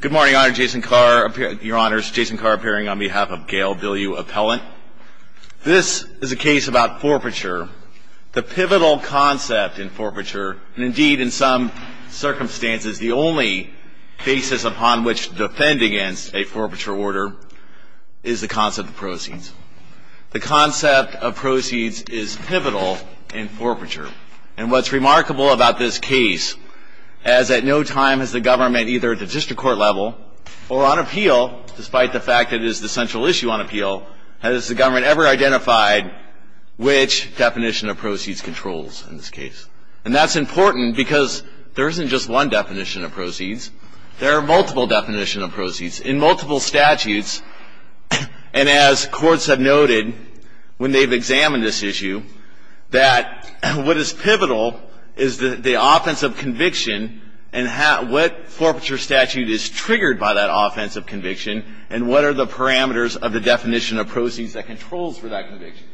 Good morning, your honors, Jason Carr appearing on behalf of Gail Bilyeu Appellant. This is a case about forfeiture. The pivotal concept in forfeiture, and indeed in some circumstances, the only basis upon which to defend against a forfeiture order is the concept of proceeds. The concept of proceeds is pivotal in forfeiture, and what's remarkable about this case is that no time has the government, either at the district court level or on appeal, despite the fact that it is the central issue on appeal, has the government ever identified which definition of proceeds controls in this case. And that's important because there isn't just one definition of proceeds. There are multiple definitions of proceeds in multiple statutes, and as courts have noted when they've examined this issue, that what is pivotal is the offense of conviction and what forfeiture statute is triggered by that offense of conviction and what are the parameters of the definition of proceeds that controls for that conviction.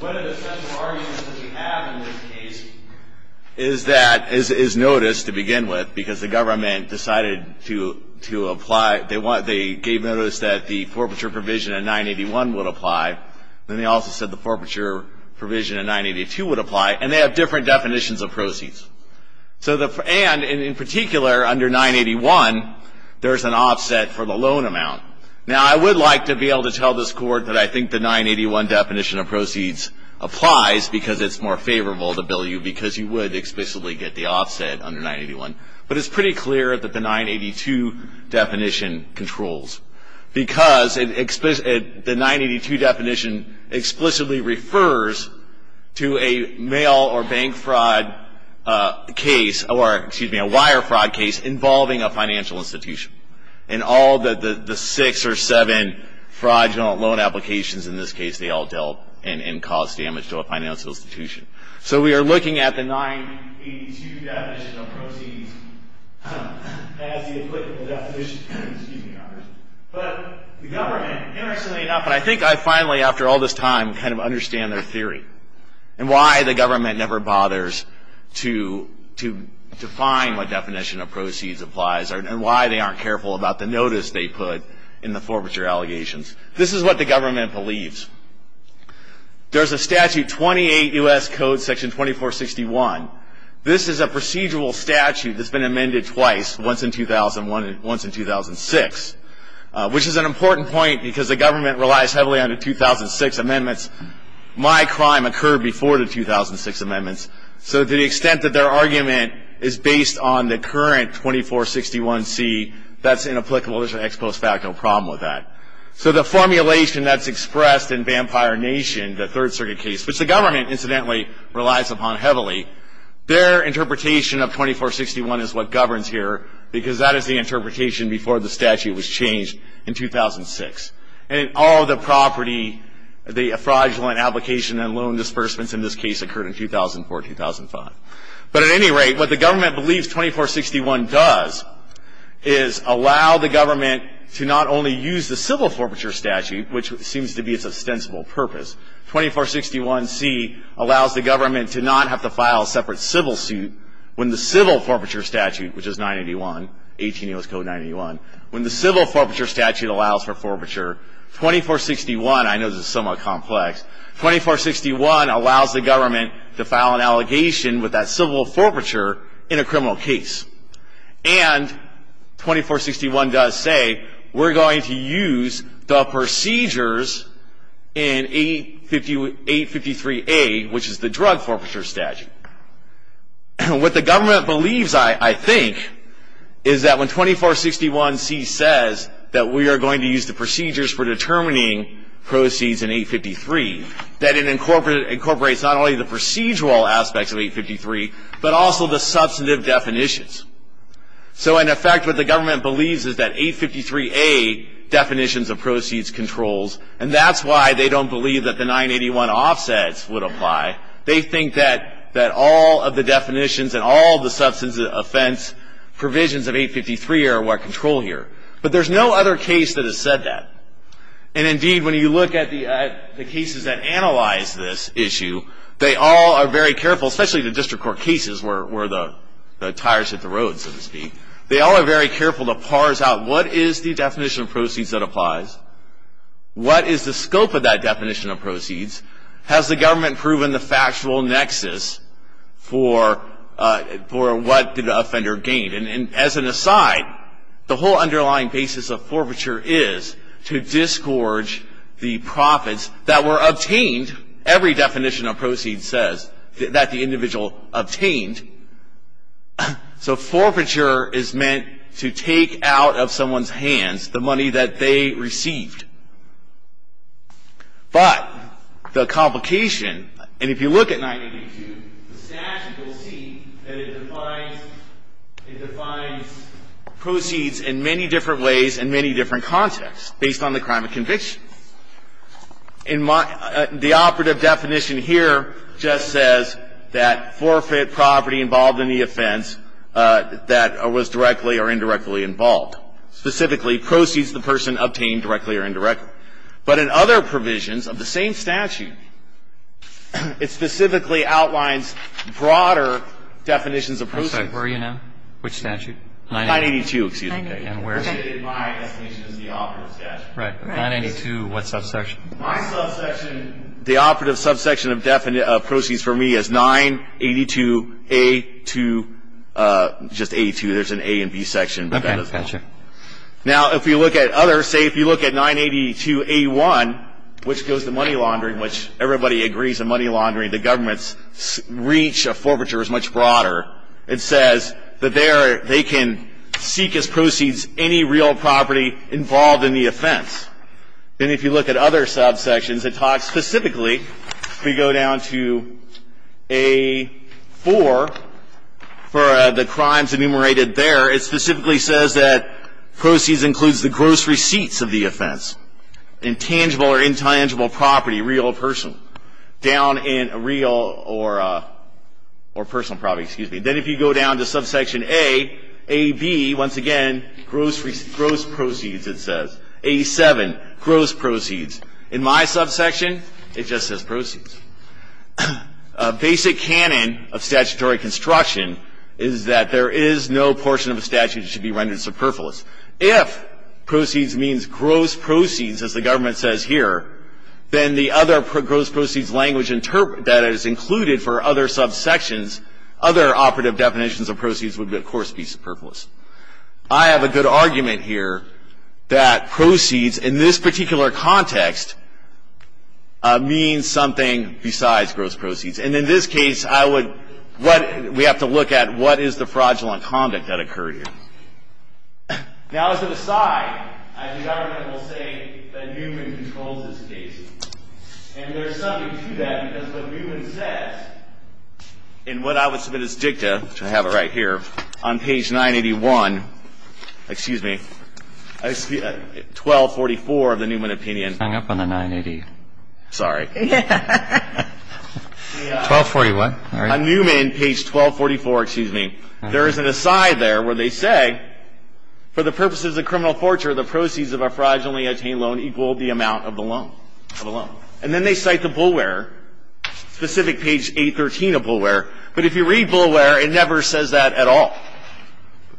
One of the central arguments that we have in this case is that, is noticed to begin with, because the government decided to apply, they gave notice that the forfeiture provision in 981 would apply, then they also said the forfeiture provision in 982 would apply, and they have different definitions of proceeds. And in particular, under 981, there's an offset for the loan amount. Now, I would like to be able to tell this Court that I think the 981 definition of proceeds applies because it's more favorable to bill you because you would explicitly get the offset under 981, but it's pretty clear that the 982 definition controls because the 982 definition explicitly refers to a mail or bank fraud case, or excuse me, a wire fraud case involving a financial institution. And all the six or seven fraudulent loan applications in this case, they all dealt and caused damage to a financial institution. So we are looking at the 982 definition of proceeds as the applicable definition. But the government, interestingly enough, and I think I finally, after all this time, kind of understand their theory and why the government never bothers to define what definition of proceeds applies and why they aren't careful about the notice they put in the forfeiture allegations. This is what the government believes. There's a statute, 28 U.S. Code Section 2461. This is a procedural statute that's been amended twice, once in 2001 and once in 2006, which is an important point because the government relies heavily on the 2006 amendments. My crime occurred before the 2006 amendments, so to the extent that their argument is based on the current 2461C, that's inapplicable. There's an ex post facto problem with that. So the formulation that's expressed in Vampire Nation, the Third Circuit case, which the government incidentally relies upon heavily, their interpretation of 2461 is what governs here because that is the interpretation before the statute was changed in 2006. And all the property, the fraudulent application and loan disbursements in this case occurred in 2004, 2005. But at any rate, what the government believes 2461 does is allow the government to not only use the civil forfeiture statute, which seems to be its ostensible purpose, 2461C allows the government to not have to file a separate civil suit when the civil forfeiture statute, which is 981, 18 U.S. Code 981, when the civil forfeiture statute allows for forfeiture, 2461, I know this is somewhat complex, 2461 allows the government to file an allegation with that civil forfeiture in a criminal case. And 2461 does say we're going to use the procedures in 853A, which is the drug forfeiture statute. What the government believes, I think, is that when 2461C says that we are going to use the procedures for determining proceeds in 853, that it incorporates not only the procedural aspects of 853, but also the substantive definitions. So, in effect, what the government believes is that 853A definitions of proceeds controls, and that's why they don't believe that the 981 offsets would apply. They think that all of the definitions and all of the substantive offense provisions of 853 are what control here. But there's no other case that has said that. And, indeed, when you look at the cases that analyze this issue, they all are very careful, especially the district court cases, where the tires hit the road, so to speak. They all are very careful to parse out what is the definition of proceeds that applies? What is the scope of that definition of proceeds? Has the government proven the factual nexus for what did the offender gain? And, as an aside, the whole underlying basis of forfeiture is to disgorge the profits that were obtained, every definition of proceeds says, that the individual obtained. So forfeiture is meant to take out of someone's hands the money that they received. But the complication, and if you look at 982, the statute will see that it defines proceeds in many different ways and many different contexts based on the crime of conviction. In my the operative definition here just says that forfeit property involved in the offense that was directly or indirectly involved, specifically proceeds the person obtained directly or indirectly. But in other provisions of the same statute, it specifically outlines broader definitions of proceeds. Sorry, where are you now? Which statute? 982, excuse me. Okay, and where are you? My estimation is the operative statute. Right. 982, what subsection? My subsection, the operative subsection of proceeds for me is 982A2, just A2, there's an A and B section. Okay, gotcha. Now, if you look at other, say if you look at 982A1, which goes to money laundering, which everybody agrees in money laundering, the government's reach of forfeiture is much broader. It says that there they can seek as proceeds any real property involved in the offense. And if you look at other subsections that talk specifically, we go down to A4 for the crimes enumerated there, it specifically says that proceeds includes the gross receipts of the offense, intangible or intangible property, real or personal, down in real or personal property, excuse me. Then if you go down to subsection A, AB, once again, gross proceeds, it says. A7, gross proceeds. In my subsection, it just says proceeds. A basic canon of statutory construction is that there is no portion of a statute that should be rendered superfluous. If proceeds means gross proceeds, as the government says here, then the other gross proceeds language that is included for other subsections, other operative definitions of proceeds would, of course, be superfluous. I have a good argument here that proceeds, in this particular context, means something besides gross proceeds. And in this case, we have to look at what is the fraudulent conduct that occurred here. Now, as an aside, as the government will say, that Newman controls this case. And there's something to that because what Newman says, in what I would submit as dicta, which I have it right here, on page 981, excuse me, 1244 of the Newman opinion. Hang up on the 980. Sorry. 1241. On Newman, page 1244, excuse me, there is an aside there where they say, for the purposes of criminal fortune, the proceeds of a fraudulently obtained loan equal the amount of the loan. And then they cite the Boulware, specific page 813 of Boulware. But if you read Boulware, it never says that at all.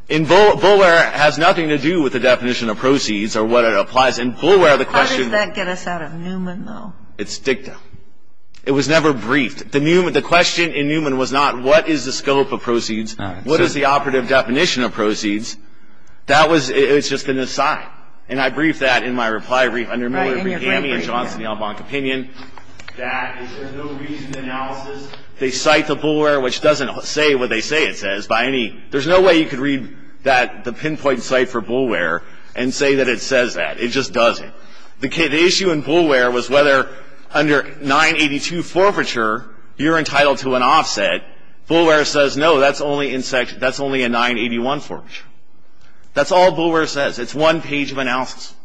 In Boulware, it has nothing to do with the definition of proceeds or what it applies. In Boulware, the question of How does that get us out of Newman, though? It's dicta. It was never briefed. The question in Newman was not, what is the scope of proceeds? What is the operative definition of proceeds? That was just an aside. And I briefed that in my reply brief under Miller, Brahami, and Johnson, the Albonque opinion, that there's no reasoned analysis. They cite the Boulware, which doesn't say what they say it says. There's no way you could read the pinpoint cite for Boulware and say that it says that. It just doesn't. The issue in Boulware was whether under 982 forfeiture, you're entitled to an offset. Boulware says, no, that's only a 981 forfeiture. That's all Boulware says. It's one page of analysis.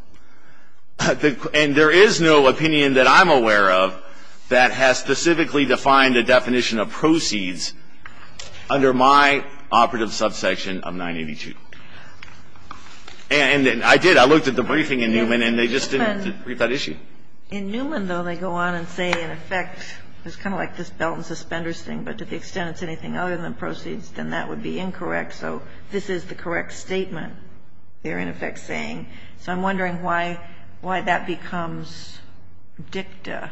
And there is no opinion that I'm aware of that has specifically defined a definition of proceeds under my operative subsection of 982. And I did. I looked at the briefing in Newman, and they just didn't brief that issue. In Newman, though, they go on and say, in effect, it's kind of like this belt and suspenders thing, but to the extent it's anything other than proceeds, then that would be incorrect. So this is the correct statement they're, in effect, saying. So I'm wondering why that becomes dicta.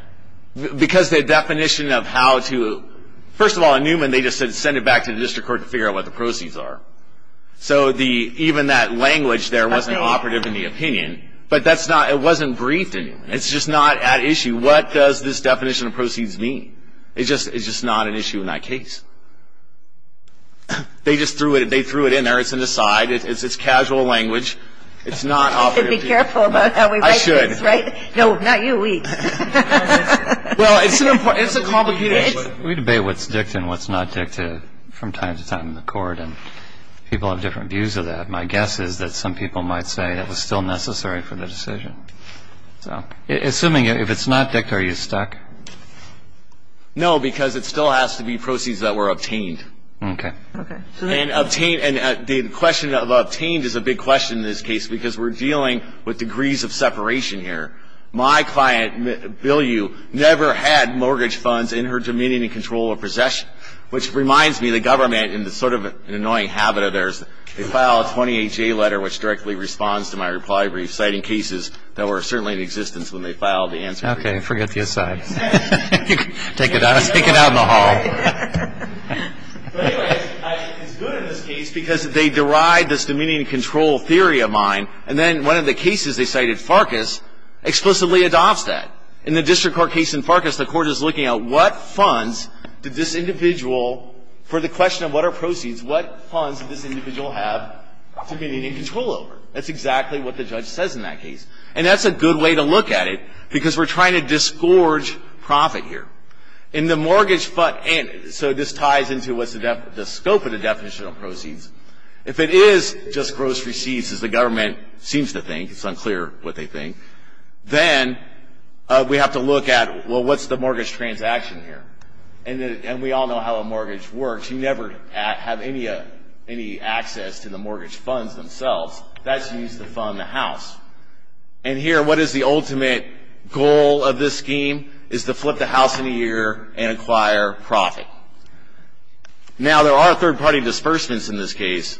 Because the definition of how to – first of all, in Newman, they just said send it back to the district court to figure out what the proceeds are. So even that language there wasn't operative in the opinion. But that's not – it wasn't briefed. It's just not at issue. What does this definition of proceeds mean? It's just not an issue in that case. They just threw it in there. It's an aside. It's casual language. It's not operative. You have to be careful about how we write things, right? I should. No, not you. We. Well, it's a complicated issue. We debate what's dicta and what's not dicta from time to time in the court, and people have different views of that. My guess is that some people might say it was still necessary for the decision. So assuming if it's not dicta, are you stuck? No, because it still has to be proceeds that were obtained. Okay. Okay. And obtained – and the question of obtained is a big question in this case because we're dealing with degrees of separation here. My client, Bill Yu, never had mortgage funds in her dominion and control of possession, which reminds me the government, in sort of an annoying habit of theirs, they file a 28-J letter which directly responds to my reply brief citing cases that were certainly in existence when they filed the answer brief. Okay. Forget the aside. Take it out in the hall. But anyway, it's good in this case because they deride this dominion and control theory of mine, and then one of the cases they cited, Farkas, explicitly adopts that. In the district court case in Farkas, the court is looking at what funds did this individual for the question of what are proceeds, what funds did this individual have dominion and control over. That's exactly what the judge says in that case. And that's a good way to look at it because we're trying to disgorge profit here. In the mortgage fund – and so this ties into what's the scope of the definitional If it is just gross receipts, as the government seems to think, it's unclear what they think, then we have to look at, well, what's the mortgage transaction here? And we all know how a mortgage works. You never have any access to the mortgage funds themselves. That's used to fund the house. And here, what is the ultimate goal of this scheme is to flip the house in a year and acquire profit. Now, there are third-party disbursements in this case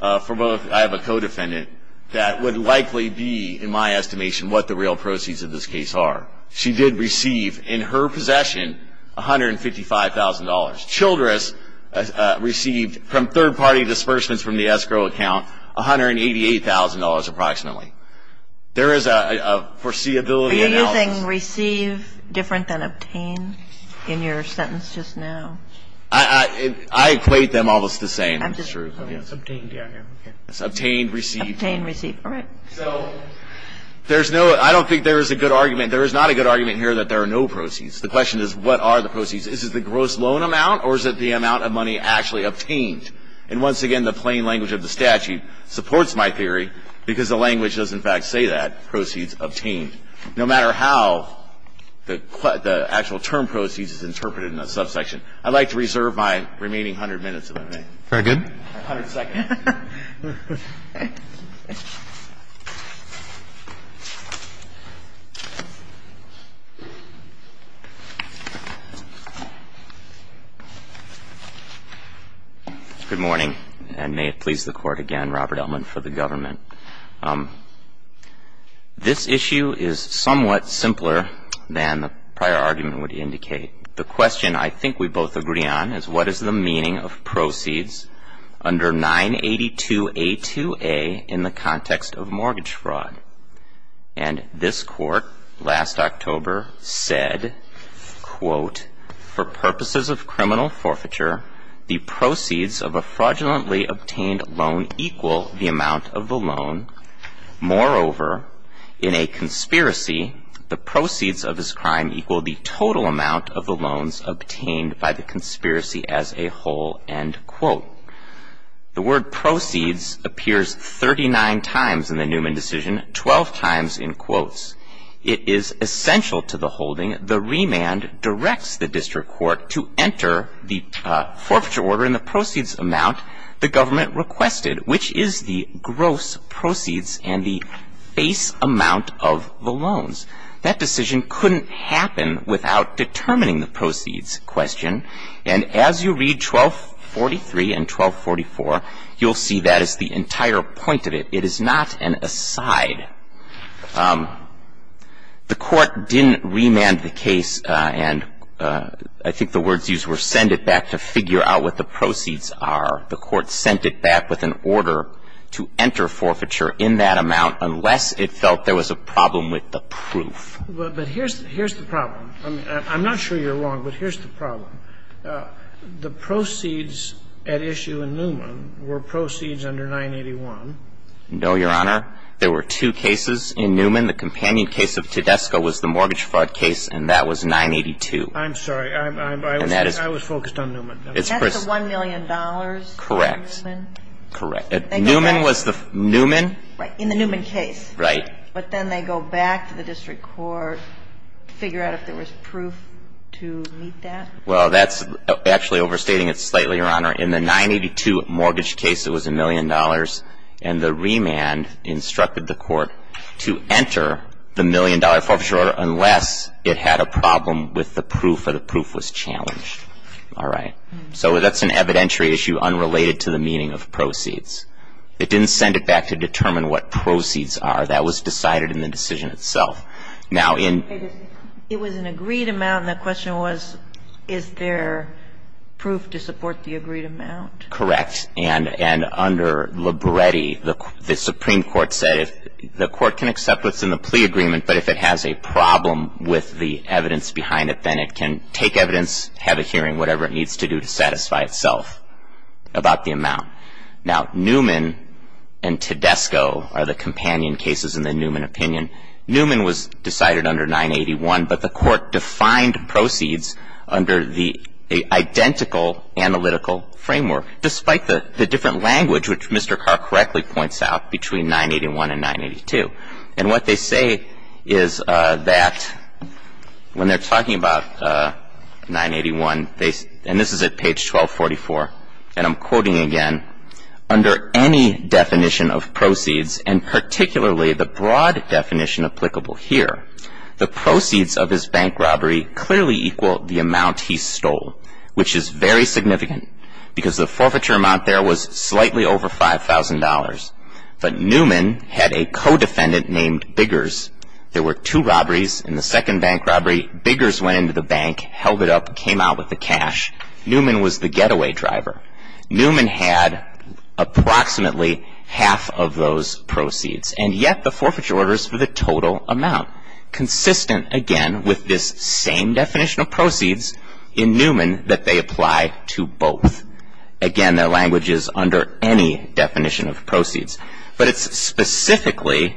for both. I have a co-defendant that would likely be, in my estimation, what the real proceeds of this case are. She did receive, in her possession, $155,000. Childress received, from third-party disbursements from the escrow account, $188,000 approximately. There is a foreseeability analysis. Is obtaining receive different than obtain in your sentence just now? I equate them almost the same. It's true. It's obtained, yeah. It's obtained, received. Obtained, received. All right. So there's no – I don't think there is a good argument – there is not a good argument here that there are no proceeds. The question is, what are the proceeds? Is it the gross loan amount, or is it the amount of money actually obtained? And once again, the plain language of the statute supports my theory, because the language does, in fact, say that. Proceeds obtained. No matter how the actual term proceeds is interpreted in the subsection. I'd like to reserve my remaining hundred minutes, if I may. Very good. A hundred seconds. Good morning, and may it please the Court again, Robert Ellman, for the government. This issue is somewhat simpler than the prior argument would indicate. The question I think we both agree on is, what is the meaning of proceeds under 982A2A in the context of mortgage fraud? And this Court, last October, said, quote, The word proceeds appears 39 times in the Newman decision, 12 times in quotes. It is essential to the holding. The remand directs the district court to enter the forfeiture order in the proceeds amount the government requested, which is the gross proceeds and the base amount of the loans. That decision couldn't happen without determining the proceeds question. And as you read 1243 and 1244, you'll see that is the entire point of it. It is not an aside. The Court didn't remand the case and I think the words used were send it back to figure out what the proceeds are. The Court sent it back with an order to enter forfeiture in that amount unless it felt there was a problem with the proof. But here's the problem. The proceeds at issue in Newman were proceeds under 981. No, Your Honor. There were two cases in Newman. The companion case of Tedesco was the mortgage fraud case and that was 982. I'm sorry. I was focused on Newman. That's the $1 million? Correct. Correct. Newman was the Newman? In the Newman case. Right. But then they go back to the district court, figure out if there was proof to meet that. Well, that's actually overstating it slightly, Your Honor. In the 982 mortgage case, it was $1 million. And the remand instructed the Court to enter the $1 million forfeiture order unless it had a problem with the proof or the proof was challenged. All right. So that's an evidentiary issue unrelated to the meaning of proceeds. It didn't send it back to determine what proceeds are. That was decided in the decision itself. Now, in It was an agreed amount and the question was, is there proof to support the agreed amount? Correct. And under Libretti, the Supreme Court said the Court can accept what's in the plea agreement, but if it has a problem with the evidence behind it, then it can take evidence, have a hearing, whatever it needs to do to satisfy itself about the amount. Now, Newman and Tedesco are the companion cases in the Newman opinion. Newman was decided under 981, but the Court defined proceeds under the identical analytical framework, despite the different language which Mr. Carr correctly points out between 981 and 982. And what they say is that when they're talking about 981, and this is at page 1244, and I'm quoting again, under any definition of proceeds, and particularly the broad definition applicable here, the proceeds of his bank robbery clearly equal the amount he stole, which is very significant because the forfeiture amount there was slightly over $5,000. But Newman had a co-defendant named Biggers. There were two robberies in the second bank robbery. Biggers went into the bank, held it up, came out with the cash. Newman was the getaway driver. Newman had approximately half of those proceeds. And yet the forfeiture order is for the total amount, consistent, again, with this same definition of proceeds in Newman that they apply to both. Again, their language is under any definition of proceeds. But it's specifically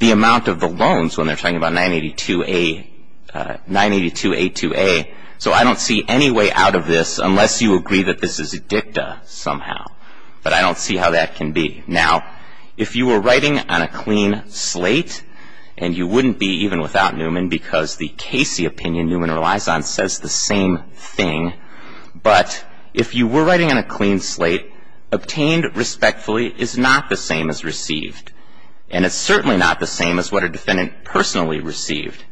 the amount of the loans when they're talking about 982A2A. So I don't see any way out of this unless you agree that this is a dicta somehow. But I don't see how that can be. Now, if you were writing on a clean slate, and you wouldn't be even without Newman because the Casey opinion Newman relies on says the same thing. But if you were writing on a clean slate, obtained respectfully is not the same as received. And it's certainly not the same as what a defendant personally received.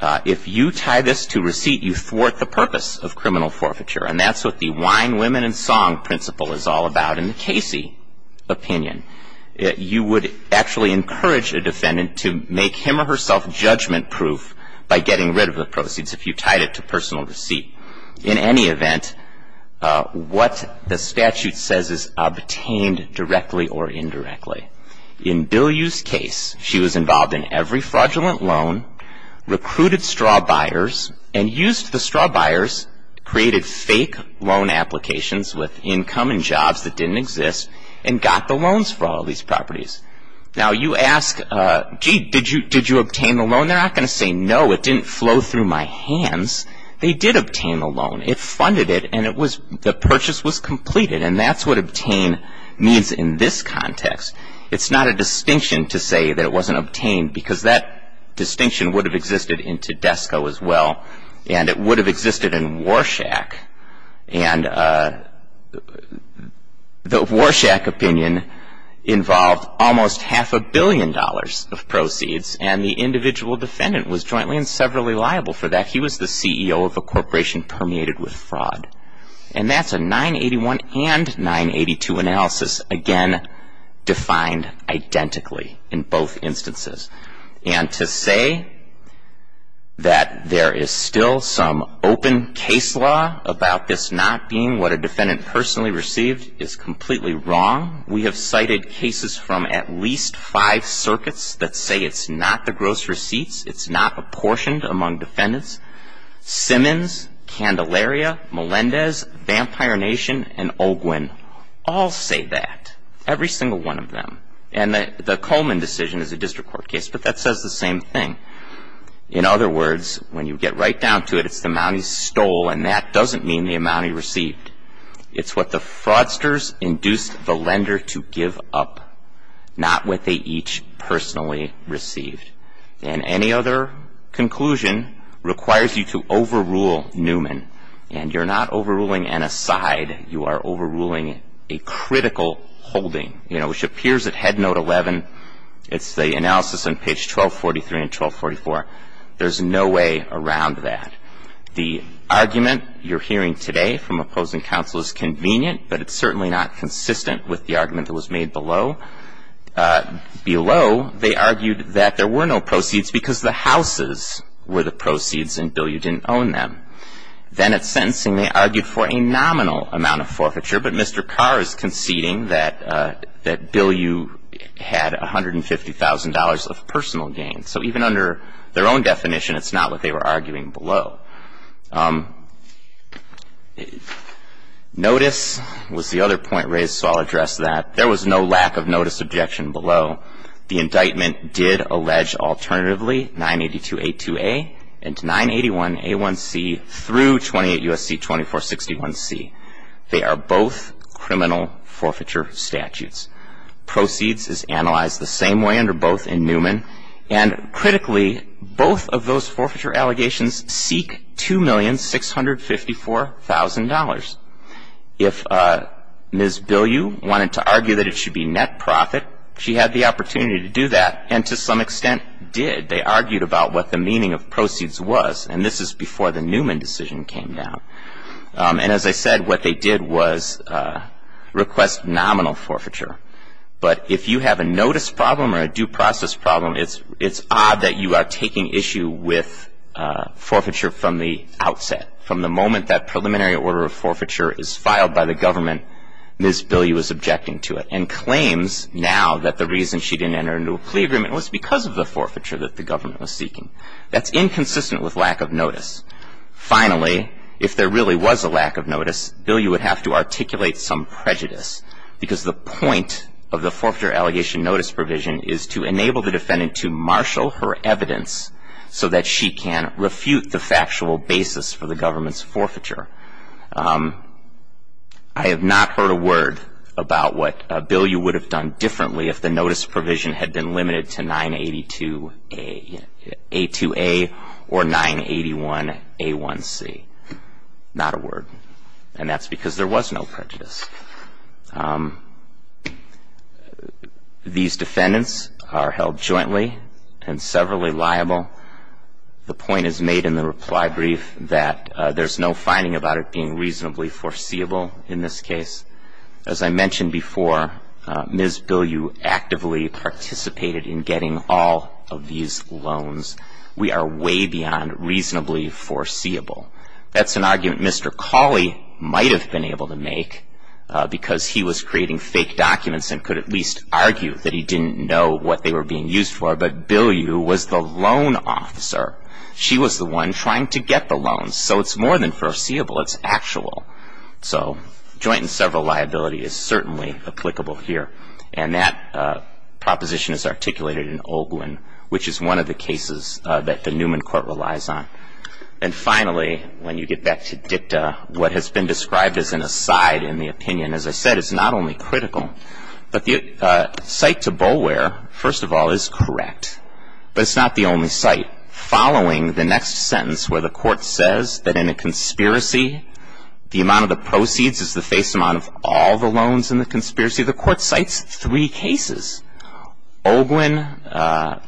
If you tie this to receipt, you thwart the purpose of criminal forfeiture. And that's what the wine, women, and song principle is all about in the Casey opinion. You would actually encourage a defendant to make him or herself judgment-proof by getting rid of the proceeds if you tied it to personal receipt. In any event, what the statute says is obtained directly or indirectly. In Bilyeu's case, she was involved in every fraudulent loan, recruited straw buyers, and used the straw buyers, created fake loan applications with income and jobs that didn't exist, and got the loans for all these properties. Now, you ask, gee, did you obtain the loan? They're not going to say, no, it didn't flow through my hands. They did obtain the loan. It funded it, and the purchase was completed. And that's what obtain means in this context. It's not a distinction to say that it wasn't obtained because that distinction would have existed in Tedesco as well, and it would have existed in Warshak. And the Warshak opinion involved almost half a billion dollars of proceeds, and the individual defendant was jointly and severally liable for that. He was the CEO of a corporation permeated with fraud. And that's a 981 and 982 analysis, again, defined identically in both instances. And to say that there is still some open case law about this not being what a defendant personally received is completely wrong. We have cited cases from at least five circuits that say it's not the gross receipts, it's not apportioned among defendants. Simmons, Candelaria, Melendez, Vampire Nation, and Olguin all say that, every single one of them. And the Coleman decision is a district court case, but that says the same thing. In other words, when you get right down to it, it's the amount he stole, and that doesn't mean the amount he received. It's what the fraudsters induced the lender to give up, not what they each personally received. And any other conclusion requires you to overrule Newman. And you're not overruling an aside. You are overruling a critical holding, you know, which appears at Head Note 11. It's the analysis on page 1243 and 1244. There's no way around that. The argument you're hearing today from opposing counsel is convenient, but it's certainly not consistent with the argument that was made below. Below, they argued that there were no proceeds because the houses were the proceeds and Bilyeu didn't own them. Then at sentencing, they argued for a nominal amount of forfeiture, but Mr. Carr is conceding that Bilyeu had $150,000 of personal gain. So even under their own definition, it's not what they were arguing below. Notice was the other point raised, so I'll address that. There was no lack of notice objection below. The indictment did allege alternatively 982A2A and 981A1C through 28 U.S.C. 2461C. They are both criminal forfeiture statutes. Proceeds is analyzed the same way under both in Newman. And critically, both of those forfeiture allegations seek $2,654,000. If Ms. Bilyeu wanted to argue that it should be net profit, she had the opportunity to do that, and to some extent did. They argued about what the meaning of proceeds was, and this is before the Newman decision came down. And as I said, what they did was request nominal forfeiture. But if you have a notice problem or a due process problem, it's odd that you are taking issue with forfeiture from the outset, from the moment that preliminary order of forfeiture is filed by the government, Ms. Bilyeu is objecting to it and claims now that the reason she didn't enter into a plea agreement was because of the forfeiture that the government was seeking. That's inconsistent with lack of notice. Finally, if there really was a lack of notice, Bilyeu would have to articulate some prejudice, because the point of the forfeiture allegation notice provision is to enable the defendant to marshal her evidence so that she can refute the factual basis for the government's forfeiture. I have not heard a word about what Bilyeu would have done differently if the notice provision had been limited to 982A or 981A1C. Not a word. And that's because there was no prejudice. These defendants are held jointly and severally liable. The point is made in the reply brief that there's no finding about it being reasonably foreseeable in this case. As I mentioned before, Ms. Bilyeu actively participated in getting all of these loans. We are way beyond reasonably foreseeable. That's an argument Mr. Cawley might have been able to make, because he was creating fake documents and could at least argue that he didn't know what they were being used for. But Bilyeu was the loan officer. She was the one trying to get the loans. So it's more than foreseeable, it's actual. So joint and several liability is certainly applicable here. And that proposition is articulated in Olguin, which is one of the cases that the Newman court relies on. And finally, when you get back to dicta, what has been described as an aside in the opinion, as I said, it's not only critical, but the cite to Boulware, first of all, is correct. But it's not the only cite. Following the next sentence where the court says that in a conspiracy, the amount of the proceeds is the face amount of all the loans in the conspiracy, the court cites three cases. Olguin,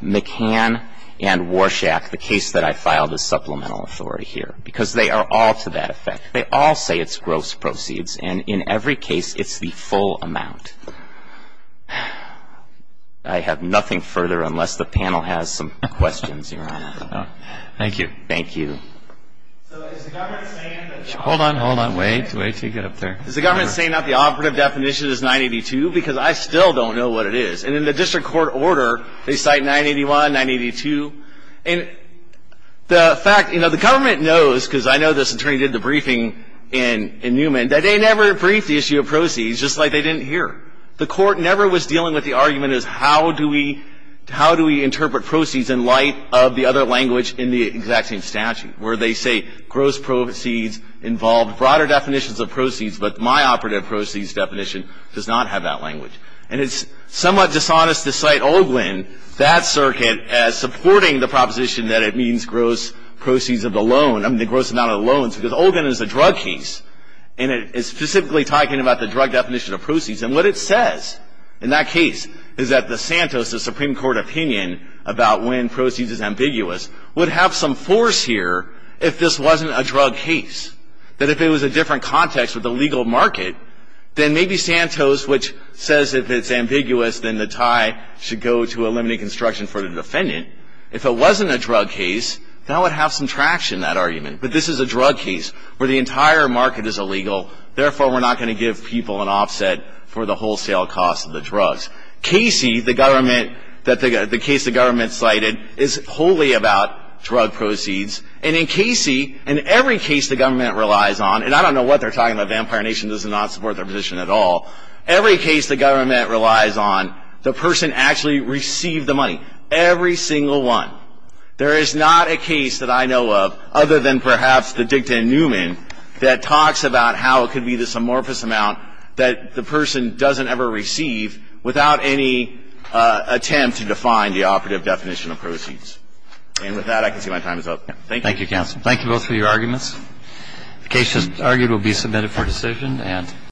McCann, and Warshak, the case that I filed as supplemental authority here, because they are all to that effect. They all say it's gross proceeds. And in every case, it's the full amount. I have nothing further unless the panel has some questions, Your Honor. Thank you. Thank you. Hold on, hold on. Wait, wait until you get up there. Is the government saying that the operative definition is 982? Because I still don't know what it is. And in the district court order, they cite 981, 982. And the fact, you know, the government knows, because I know this attorney did the briefing in Newman, that they never briefed the issue of proceeds, just like they didn't hear. The court never was dealing with the argument as how do we interpret proceeds in light of the other language in the exact same statute, where they say gross proceeds involve broader definitions of proceeds, but my operative proceeds definition does not have that language. And it's somewhat dishonest to cite Olguin, that circuit, as supporting the proposition that it means gross proceeds of the loan, I mean the gross amount of the loans, because Olguin is a drug case, and it is specifically talking about the drug definition of proceeds. And what it says in that case is that the Santos, the Supreme Court opinion about when proceeds is ambiguous, would have some force here if this wasn't a drug case. That if it was a different context with the legal market, then maybe Santos, which says if it's ambiguous, then the tie should go to eliminate construction for the defendant. If it wasn't a drug case, that would have some traction, that argument. But this is a drug case where the entire market is illegal. Therefore, we're not going to give people an offset for the wholesale cost of the drugs. Casey, the government, the case the government cited, is wholly about drug proceeds. And in Casey, in every case the government relies on, and I don't know what they're talking about, Vampire Nation does not support their position at all. Every case the government relies on, the person actually received the money. Every single one. There is not a case that I know of, other than perhaps the dicta in Newman, that talks about how it could be this amorphous amount that the person doesn't ever receive without any attempt to define the operative definition of proceeds. And with that, I can see my time is up. Thank you. Thank you, counsel. Thank you both for your arguments. The case just argued will be submitted for decision.